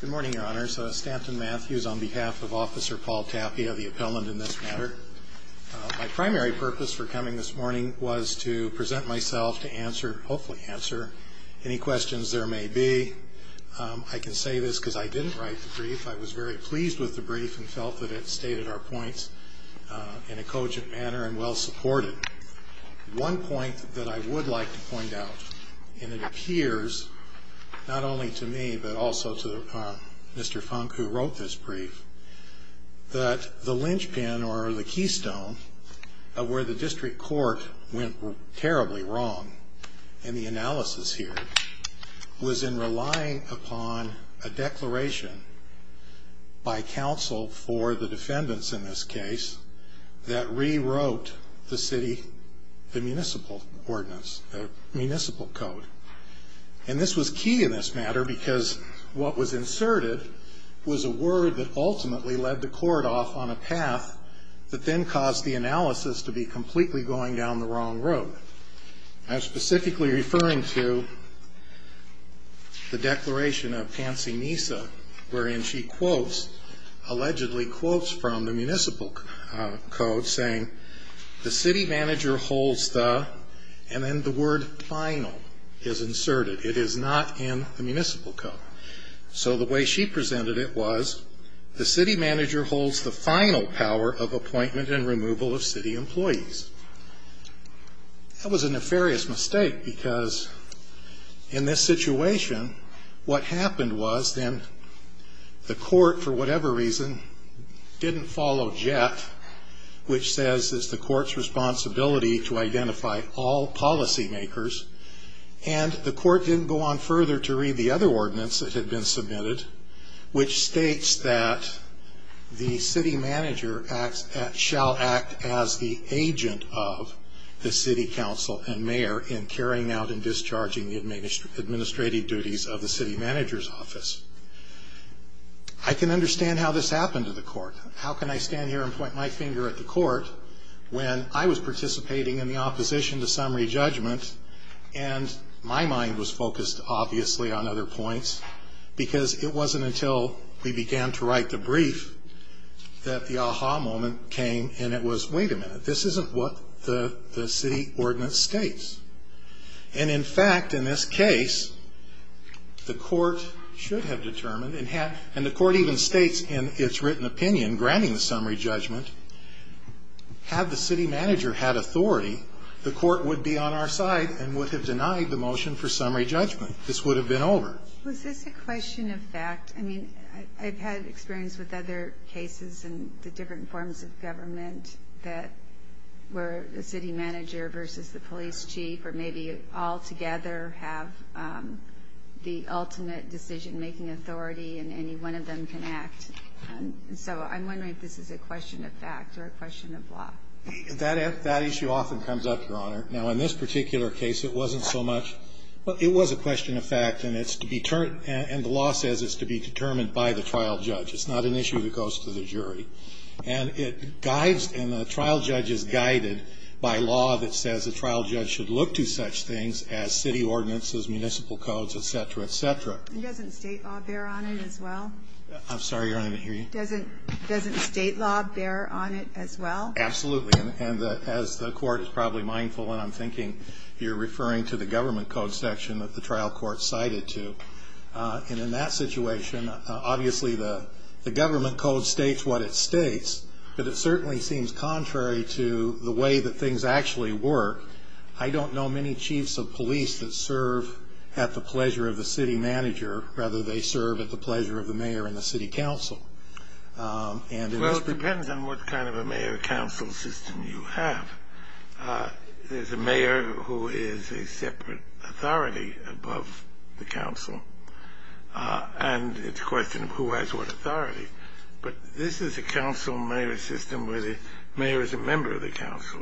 Good morning, your honors. Stanton Matthews on behalf of Officer Paul Tapia, the appellant in this matter. My primary purpose for coming this morning was to present myself to answer, hopefully answer, any questions there may be. I can say this because I didn't write the brief. I was very pleased with the brief and felt that it stated our points in a cogent manner and well supported. One point that I would like to point out, and it appears not only to me but also to Mr. Funk who wrote this brief, that the linchpin or the keystone of where the district court went terribly wrong in the analysis here was in relying upon a declaration by counsel for the defendants in this case that rewrote the municipal ordinance, the municipal code. And this was key in this matter because what was inserted was a word that ultimately led the court off on a path that then caused the analysis to be completely going down the wrong road. I'm specifically referring to the declaration of Fancy Mesa wherein she quotes, allegedly quotes from the municipal code saying, the city manager holds the, and then the word final is inserted. It is not in the municipal code. So the way she presented it was, the city manager holds the final power of appointment and removal of city employees. That was a nefarious mistake because in this situation, what happened was then the court, for whatever reason, didn't follow JET, which says it's the court's responsibility to identify all policy makers, and the court didn't go on further to read the other ordinance that had been submitted, which states that the city manager shall act as the agent of the city council and mayor in carrying out and discharging the administrative duties of the city manager's office. I can understand how this happened to the court. How can I stand here and point my finger at the court when I was participating in the opposition to summary judgment and my mind was focused obviously on other points because it wasn't until we began to write the brief that the aha moment came and it was, wait a minute, this isn't what the city ordinance states. And in fact, in this case, the court should have determined and the court even states in its written opinion, in granting the summary judgment, had the city manager had authority, the court would be on our side and would have denied the motion for summary judgment. This would have been over. Was this a question of fact? I mean, I've had experience with other cases and the different forms of government that were the city manager versus the police chief or maybe all together have the ultimate decision-making authority and any one of them can act. And so I'm wondering if this is a question of fact or a question of law. That issue often comes up, Your Honor. Now, in this particular case, it wasn't so much. It was a question of fact and it's to be turned and the law says it's to be determined by the trial judge. It's not an issue that goes to the jury. And it guides and the trial judge is guided by law that says the trial judge should look to such things as city ordinances, municipal codes, et cetera, et cetera. And doesn't State law bear on it as well? I'm sorry, Your Honor. Didn't hear you. Doesn't State law bear on it as well? Absolutely. And as the Court is probably mindful and I'm thinking you're referring to the government code section that the trial court cited to. And in that situation, obviously the government code states what it states, but it certainly seems contrary to the way that things actually work. I don't know many chiefs of police that serve at the pleasure of the city manager rather they serve at the pleasure of the mayor and the city council. Well, it depends on what kind of a mayor-council system you have. There's a mayor who is a separate authority above the council and it's a question of who has what authority. But this is a council-mayor system where the mayor is a member of the council.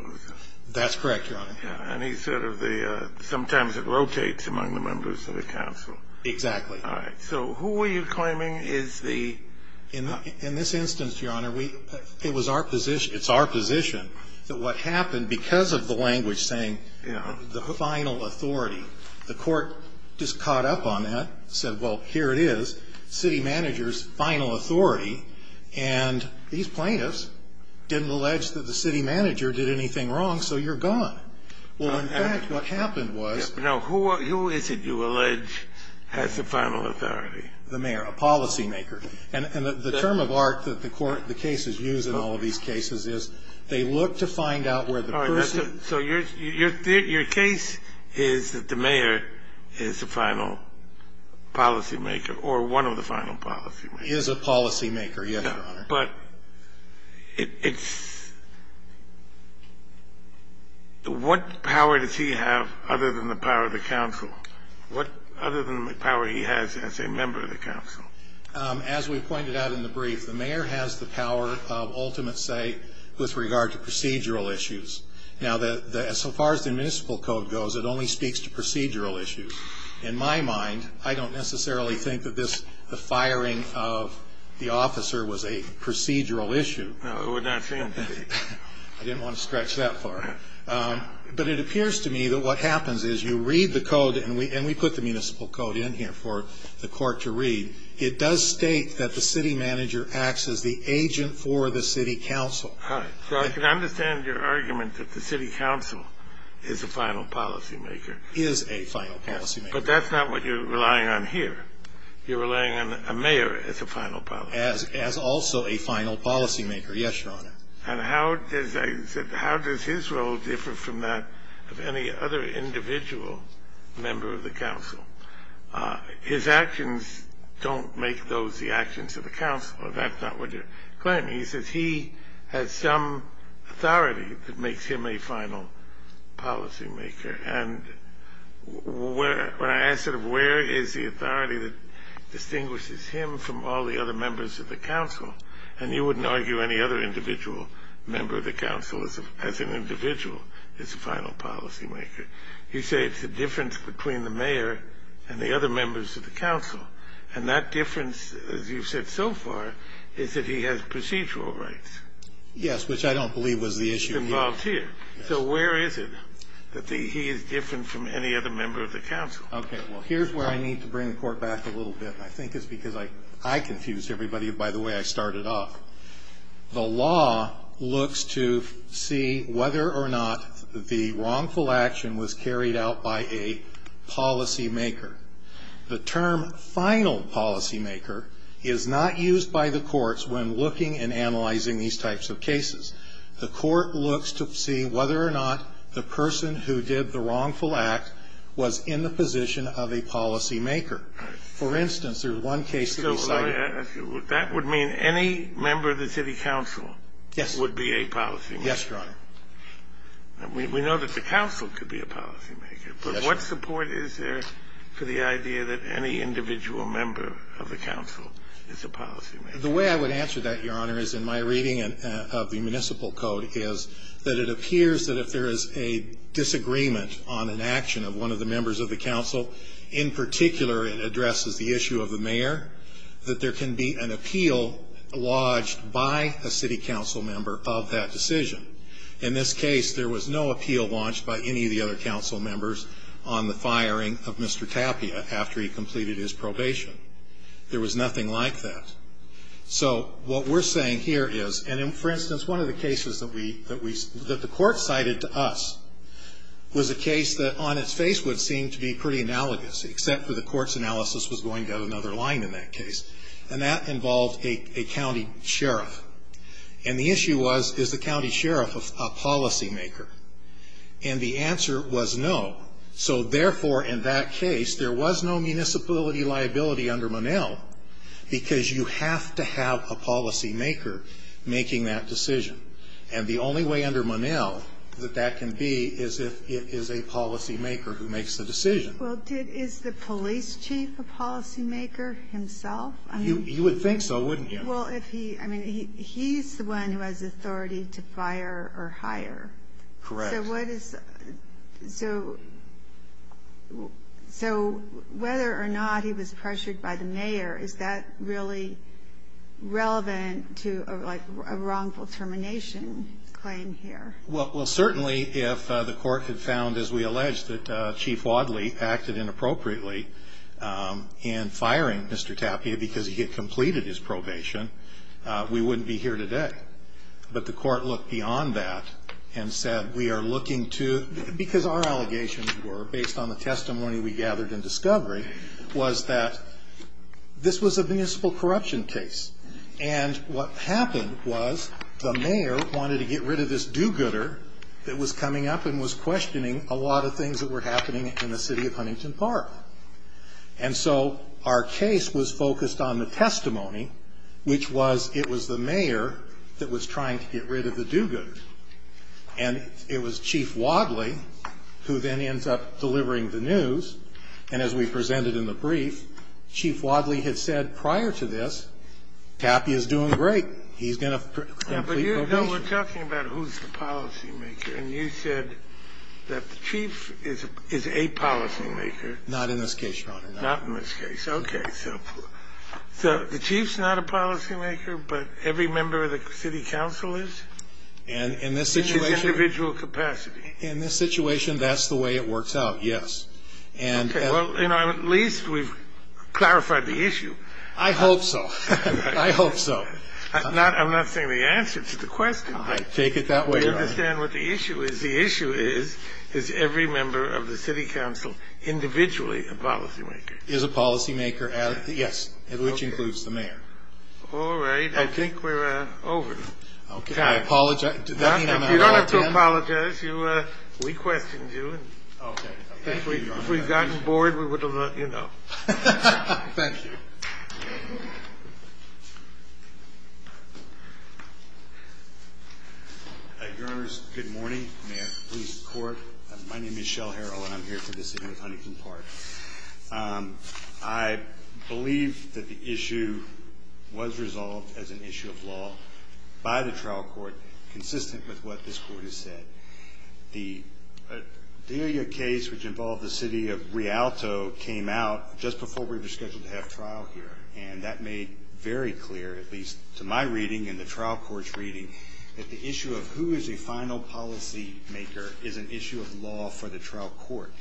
That's correct, Your Honor. And he's sort of the – sometimes it rotates among the members of the council. Exactly. All right. So who were you claiming is the – In this instance, Your Honor, we – it was our position – it's our position that what happened because of the language saying, you know, the final authority, the Court just caught up on that, said, well, here it is, city manager's final authority, and these plaintiffs didn't allege that the city manager did anything wrong, so you're gone. Well, in fact, what happened was – Now, who is it you allege has the final authority? The mayor, a policymaker. And the term of art that the Court – the cases use in all of these cases is they look to find out where the person – All right. So your case is that the mayor is the final policymaker or one of the final policymakers. Is a policymaker, yes, Your Honor. But it's – what power does he have other than the power of the council? What other than the power he has as a member of the council? As we pointed out in the brief, the mayor has the power of ultimate say with regard to procedural issues. Now, so far as the municipal code goes, it only speaks to procedural issues. In my mind, I don't necessarily think that this – the firing of the officer was a procedural issue. No, it would not seem to be. I didn't want to stretch that far. But it appears to me that what happens is you read the code, and we put the municipal code in here for the Court to read. It does state that the city manager acts as the agent for the city council. All right. So I can understand your argument that the city council is a final policymaker. Is a final policymaker. But that's not what you're relying on here. You're relying on a mayor as a final policymaker. As also a final policymaker, yes, Your Honor. And how does – I said how does his role differ from that of any other individual member of the council? His actions don't make those the actions of the council. That's not what you're claiming. He says he has some authority that makes him a final policymaker. And when I ask sort of where is the authority that distinguishes him from all the other members of the council, and you wouldn't argue any other individual member of the council as an individual as a final policymaker, you say it's the difference between the mayor and the other members of the council. And that difference, as you've said so far, is that he has procedural rights. Yes, which I don't believe was the issue. He's involved here. So where is it that he is different from any other member of the council? Okay. Well, here's where I need to bring the Court back a little bit, and I think it's because I confused everybody by the way I started off. The law looks to see whether or not the wrongful action was carried out by a policymaker. The term final policymaker is not used by the courts when looking and analyzing these types of cases. The court looks to see whether or not the person who did the wrongful act was in the position of a policymaker. For instance, there's one case that we cited. So that would mean any member of the city council would be a policymaker. Yes, Your Honor. We know that the council could be a policymaker. Yes, Your Honor. But what support is there for the idea that any individual member of the council is a policymaker? The way I would answer that, Your Honor, is in my reading of the municipal code, is that it appears that if there is a disagreement on an action of one of the members of the council, in particular it addresses the issue of the mayor, that there can be an appeal lodged by a city council member of that decision. In this case, there was no appeal lodged by any of the other council members on the firing of Mr. Tapia after he completed his probation. There was nothing like that. So what we're saying here is, and for instance, one of the cases that the court cited to us was a case that on its face would seem to be pretty analogous, except for the court's analysis was going down another line in that case. And that involved a county sheriff. And the issue was, is the county sheriff a policymaker? And the answer was no. So, therefore, in that case, there was no municipality liability under Monell because you have to have a policymaker making that decision. And the only way under Monell that that can be is if it is a policymaker who makes the decision. Well, is the police chief a policymaker himself? You would think so, wouldn't you? Well, if he, I mean, he's the one who has authority to fire or hire. Correct. So whether or not he was pressured by the mayor, is that really relevant to a wrongful termination claim here? Well, certainly if the court had found, as we alleged, that Chief Wadley acted inappropriately in firing Mr. Tapia because he had completed his probation, we wouldn't be here today. But the court looked beyond that and said we are looking to, because our allegations were based on the testimony we gathered in discovery, was that this was a municipal corruption case. And what happened was the mayor wanted to get rid of this do-gooder that was coming up and was questioning a lot of things that were happening in the city of Huntington Park. And so our case was focused on the testimony, which was it was the mayor that was trying to get rid of the do-gooder. And it was Chief Wadley who then ends up delivering the news. And as we presented in the brief, Chief Wadley had said prior to this, Tapia is doing great. He's going to complete probation. But you know we're talking about who's the policymaker. And you said that the chief is a policymaker. Not in this case, Your Honor. Not in this case. Okay. So the chief's not a policymaker, but every member of the city council is? In this situation. In his individual capacity. In this situation, that's the way it works out, yes. Okay. Well, you know, at least we've clarified the issue. I hope so. I hope so. I'm not saying the answer to the question. I take it that way, Your Honor. You understand what the issue is. Is every member of the city council individually a policymaker? Is a policymaker, yes, which includes the mayor. All right. I think we're over. Okay. I apologize. Does that mean I'm out of time? You don't have to apologize. We questioned you. Okay. Thank you, Your Honor. If we had gotten bored, we would have let you know. Thank you. Thank you. Your Honors, good morning. Mayor of the Police Court. My name is Shell Harrell, and I'm here for this event at Huntington Park. I believe that the issue was resolved as an issue of law by the trial court, consistent with what this court has said. The Delia case, which involved the city of Rialto, came out just before we were scheduled to have trial here, and that made very clear, at least to my reading and the trial court's reading, that the issue of who is a final policymaker is an issue of law for the trial court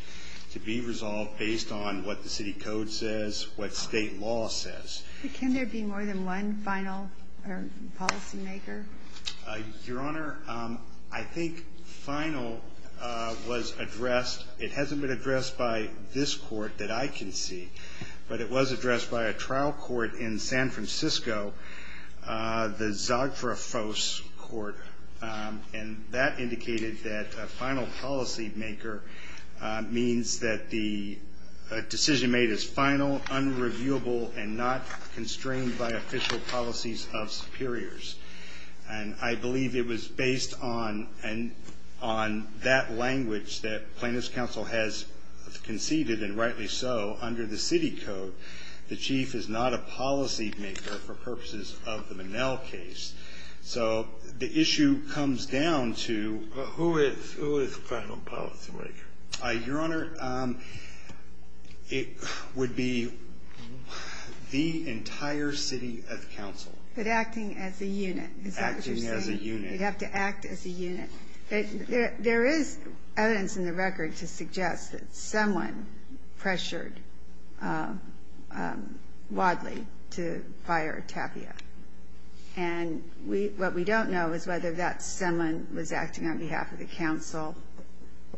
to be resolved based on what the city code says, what state law says. But can there be more than one final policymaker? Your Honor, I think final was addressed. It hasn't been addressed by this court that I can see, but it was addressed by a trial court in San Francisco, the Zagrafos Court, and that indicated that a final policymaker means that the decision made is final, unreviewable, and not constrained by official policies of superiors. I believe it was based on that language that plaintiff's counsel has conceded, and rightly so, under the city code. The chief is not a policymaker for purposes of the Manel case. So the issue comes down to who is the final policymaker. Your Honor, it would be the entire city of counsel. But acting as a unit, is that what you're saying? Acting as a unit. You'd have to act as a unit. There is evidence in the record to suggest that someone pressured Wadley to fire Tapia. And what we don't know is whether that someone was acting on behalf of the counsel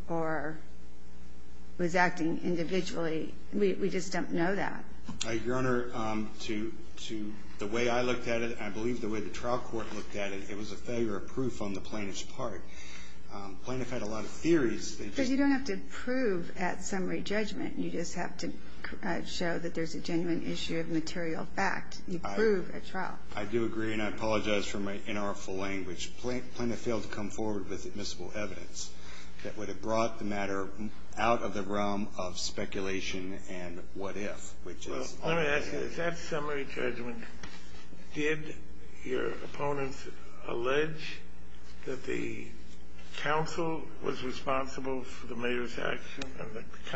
or was acting individually. We just don't know that. Your Honor, the way I looked at it, and I believe the way the trial court looked at it, it was a failure of proof on the plaintiff's part. Plaintiff had a lot of theories. Because you don't have to prove at summary judgment. You just have to show that there's a genuine issue of material fact. You prove at trial. I do agree, and I apologize for my inartful language. Plaintiff failed to come forward with admissible evidence that would have brought the matter out of the realm of speculation and what if. Let me ask you this. At summary judgment, did your opponents allege that the counsel was responsible for the mayor's action and that the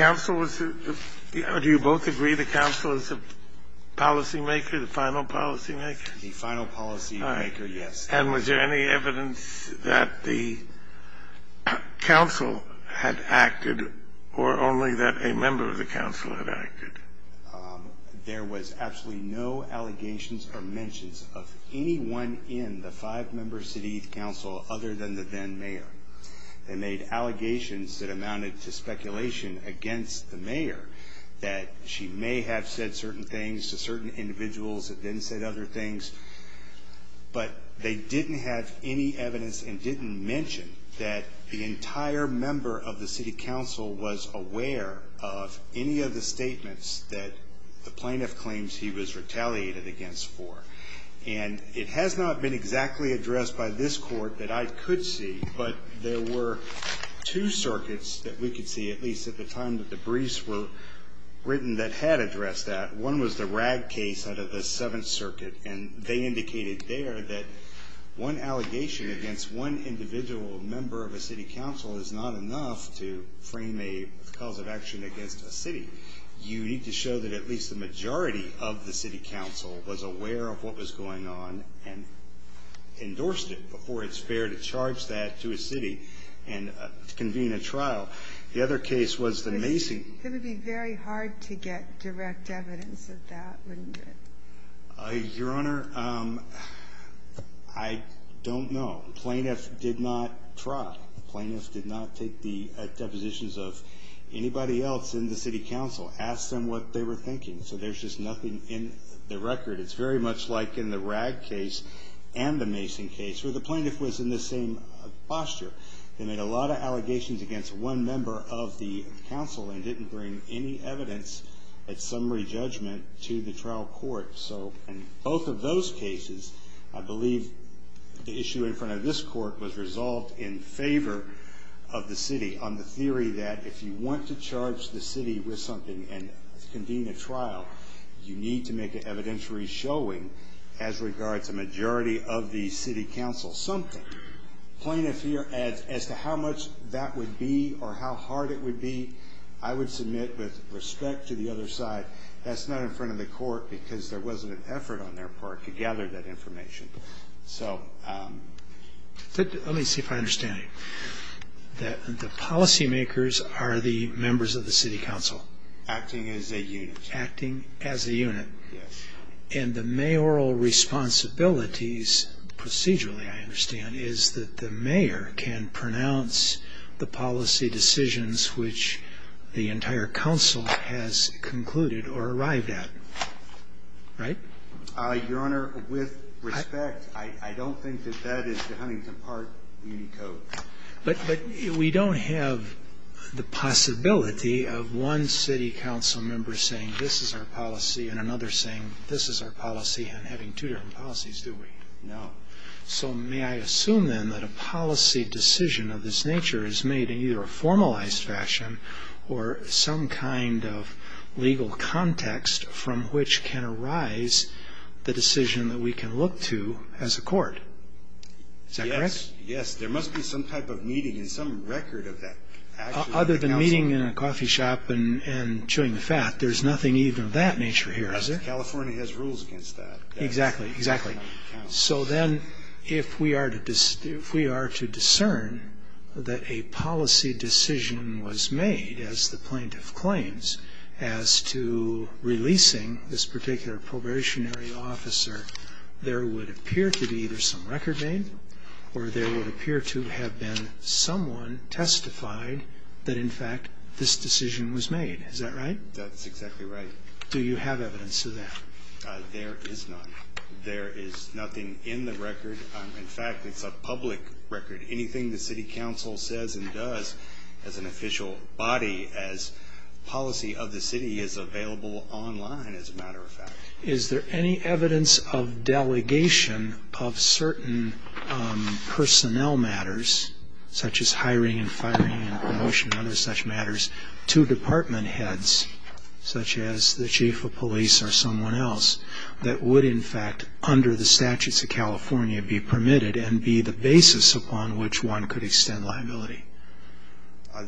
counsel was the do you both agree the counsel is the policymaker, the final policymaker? The final policymaker, yes. And was there any evidence that the counsel had acted or only that a member of the counsel had acted? There was absolutely no allegations or mentions of anyone in the five-member city council other than the then mayor. They made allegations that amounted to speculation against the mayor that she may have said certain things to certain individuals that didn't say other things, but they didn't have any evidence and didn't mention that the entire member of the city council was aware of any of the statements that the plaintiff claims he was retaliated against for. And it has not been exactly addressed by this court that I could see, but there were two circuits that we could see, at least at the time that the briefs were written, that had addressed that. One was the RAG case out of the Seventh Circuit, and they indicated there that one allegation against one individual member of a city council is not enough to frame a cause of action against a city. You need to show that at least the majority of the city council was aware of what was going on and endorsed it before it's fair to charge that to a city and convene a trial. The other case was the Macy. It would be very hard to get direct evidence of that, wouldn't it? Your Honor, I don't know. The plaintiff did not try. The plaintiff did not take the depositions of anybody else in the city council, ask them what they were thinking. So there's just nothing in the record. It's very much like in the RAG case and the Macy case, where the plaintiff was in the same posture. They made a lot of allegations against one member of the council and didn't bring any evidence at summary judgment to the trial court. So in both of those cases, I believe the issue in front of this court was resolved in favor of the city on the theory that if you want to charge the city with something and convene a trial, you need to make an evidentiary showing as regards a majority of the city council. Something. Plaintiff here, as to how much that would be or how hard it would be, I would submit with respect to the other side, that's not in front of the court because there wasn't an effort on their part to gather that information. Let me see if I understand you. The policymakers are the members of the city council. Acting as a unit. Acting as a unit. And the mayoral responsibilities procedurally, I understand, is that the mayor can pronounce the policy decisions which the entire council has concluded or arrived at. Right? Your Honor, with respect, I don't think that that is the Huntington Park Muni Code. But we don't have the possibility of one city council member saying, this is our policy, and another saying, this is our policy, and having two different policies, do we? No. So may I assume then that a policy decision of this nature is made in either a formalized fashion or some kind of legal context from which can arise the decision that we can look to as a court. Is that correct? Yes. There must be some type of meeting and some record of that. Other than meeting in a coffee shop and chewing the fat, there's nothing even of that nature here, is there? California has rules against that. Exactly. Exactly. So then if we are to discern that a policy decision was made, as the plaintiff claims, as to releasing this particular probationary officer, there would appear to be either some record made, or there would appear to have been someone testified that, in fact, this decision was made. Is that right? That's exactly right. Do you have evidence of that? There is none. There is nothing in the record. In fact, it's a public record. Anything the city council says and does as an official body, as policy of the city, is available online, as a matter of fact. Is there any evidence of delegation of certain personnel matters, such as hiring and firing and promotion and other such matters, to department heads, such as the chief of police or someone else, that would, in fact, under the statutes of California, be permitted and be the basis upon which one could extend liability?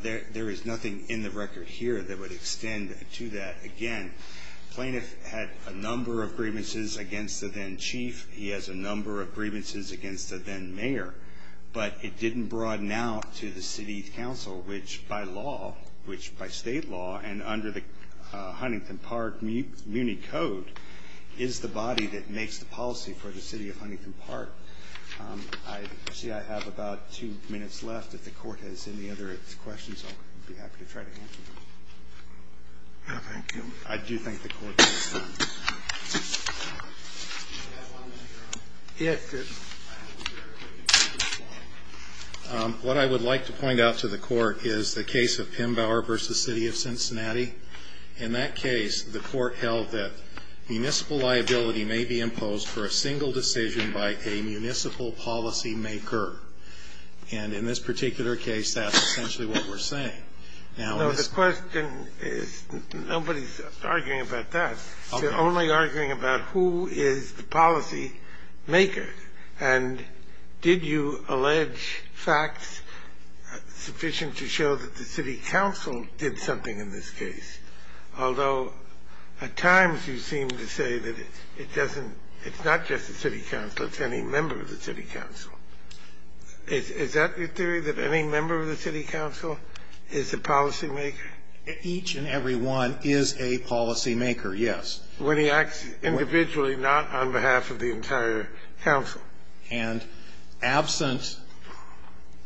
There is nothing in the record here that would extend to that. Again, the plaintiff had a number of grievances against the then chief. He has a number of grievances against the then mayor. But it didn't broaden out to the city council, which by law, which by state law, and under the Huntington Park Muni Code, is the body that makes the policy for the city of Huntington Park. I see I have about two minutes left. If the court has any other questions, I'll be happy to try to answer them. Thank you. I do think the court has questions. Do you have one, Mr. Arnold? Yes. What I would like to point out to the court is the case of Pembauer v. City of Cincinnati. In that case, the court held that municipal liability may be imposed for a single decision by a municipal policymaker. And in this particular case, that's essentially what we're saying. Now, the question is nobody's arguing about that. They're only arguing about who is the policymaker. And did you allege facts sufficient to show that the city council did something in this case? Although at times you seem to say that it doesn't – it's not just the city council. It's any member of the city council. Is that your theory, that any member of the city council is the policymaker? Each and every one is a policymaker, yes. When he acts individually, not on behalf of the entire council. And absent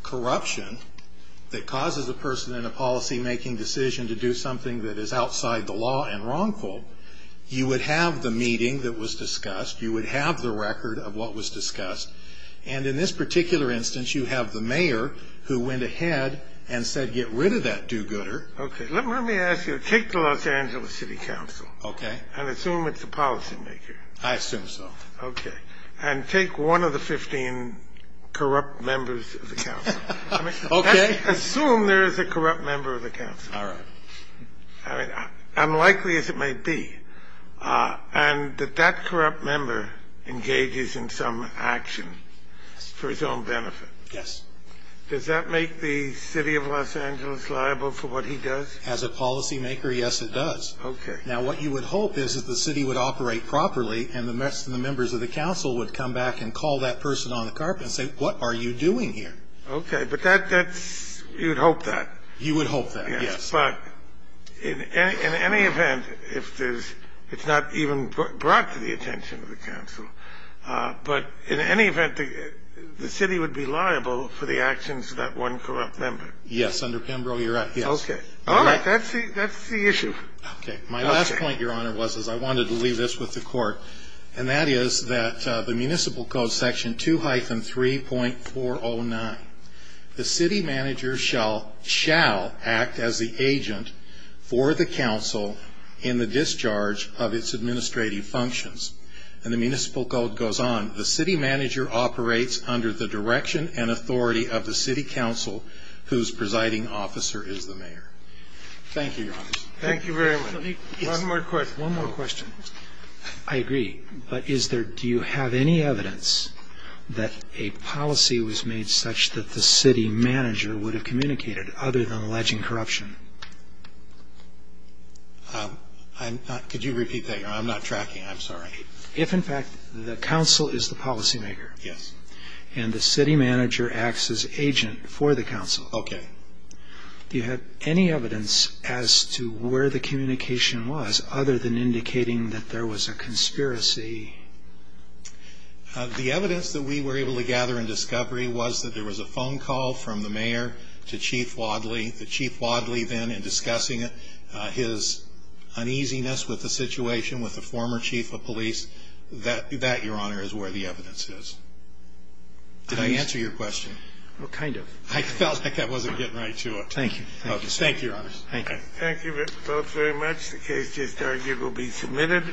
corruption that causes a person in a policymaking decision to do something that is outside the law and wrongful, you would have the meeting that was discussed. You would have the record of what was discussed. And in this particular instance, you have the mayor who went ahead and said get rid of that do-gooder. Okay. Let me ask you. Take the Los Angeles City Council. Okay. And assume it's the policymaker. I assume so. Okay. And take one of the 15 corrupt members of the council. Okay. Assume there is a corrupt member of the council. All right. I mean, unlikely as it may be, and that that corrupt member engages in some action for his own benefit. Yes. Does that make the city of Los Angeles liable for what he does? As a policymaker, yes, it does. Okay. Now, what you would hope is that the city would operate properly, and the members of the council would come back and call that person on the carpet and say, what are you doing here? Okay. But you would hope that. You would hope that, yes. But in any event, if it's not even brought to the attention of the council, but in any event, the city would be liable for the actions of that one corrupt member. Yes. Under Pembro, you're right. Yes. Okay. All right. That's the issue. Okay. My last point, Your Honor, was I wanted to leave this with the court, and that is that the municipal code section 2-3.409, the city manager shall act as the agent for the council in the discharge of its administrative functions. And the municipal code goes on. The city manager operates under the direction and authority of the city council, whose presiding officer is the mayor. Thank you, Your Honor. Thank you very much. One more question. One more question. I agree. But do you have any evidence that a policy was made such that the city manager would have communicated, other than alleging corruption? Could you repeat that? I'm not tracking. I'm sorry. If, in fact, the council is the policymaker. Yes. And the city manager acts as agent for the council. Okay. Do you have any evidence as to where the communication was, other than indicating that there was a conspiracy? The evidence that we were able to gather in discovery was that there was a phone call from the mayor to Chief Wadley. The Chief Wadley then in discussing his uneasiness with the situation with the former chief of police, that, Your Honor, is where the evidence is. Did I answer your question? Well, kind of. I felt like I wasn't getting right to it. Thank you. Thank you, Your Honor. Thank you. Thank you both very much. The case just argued will be submitted.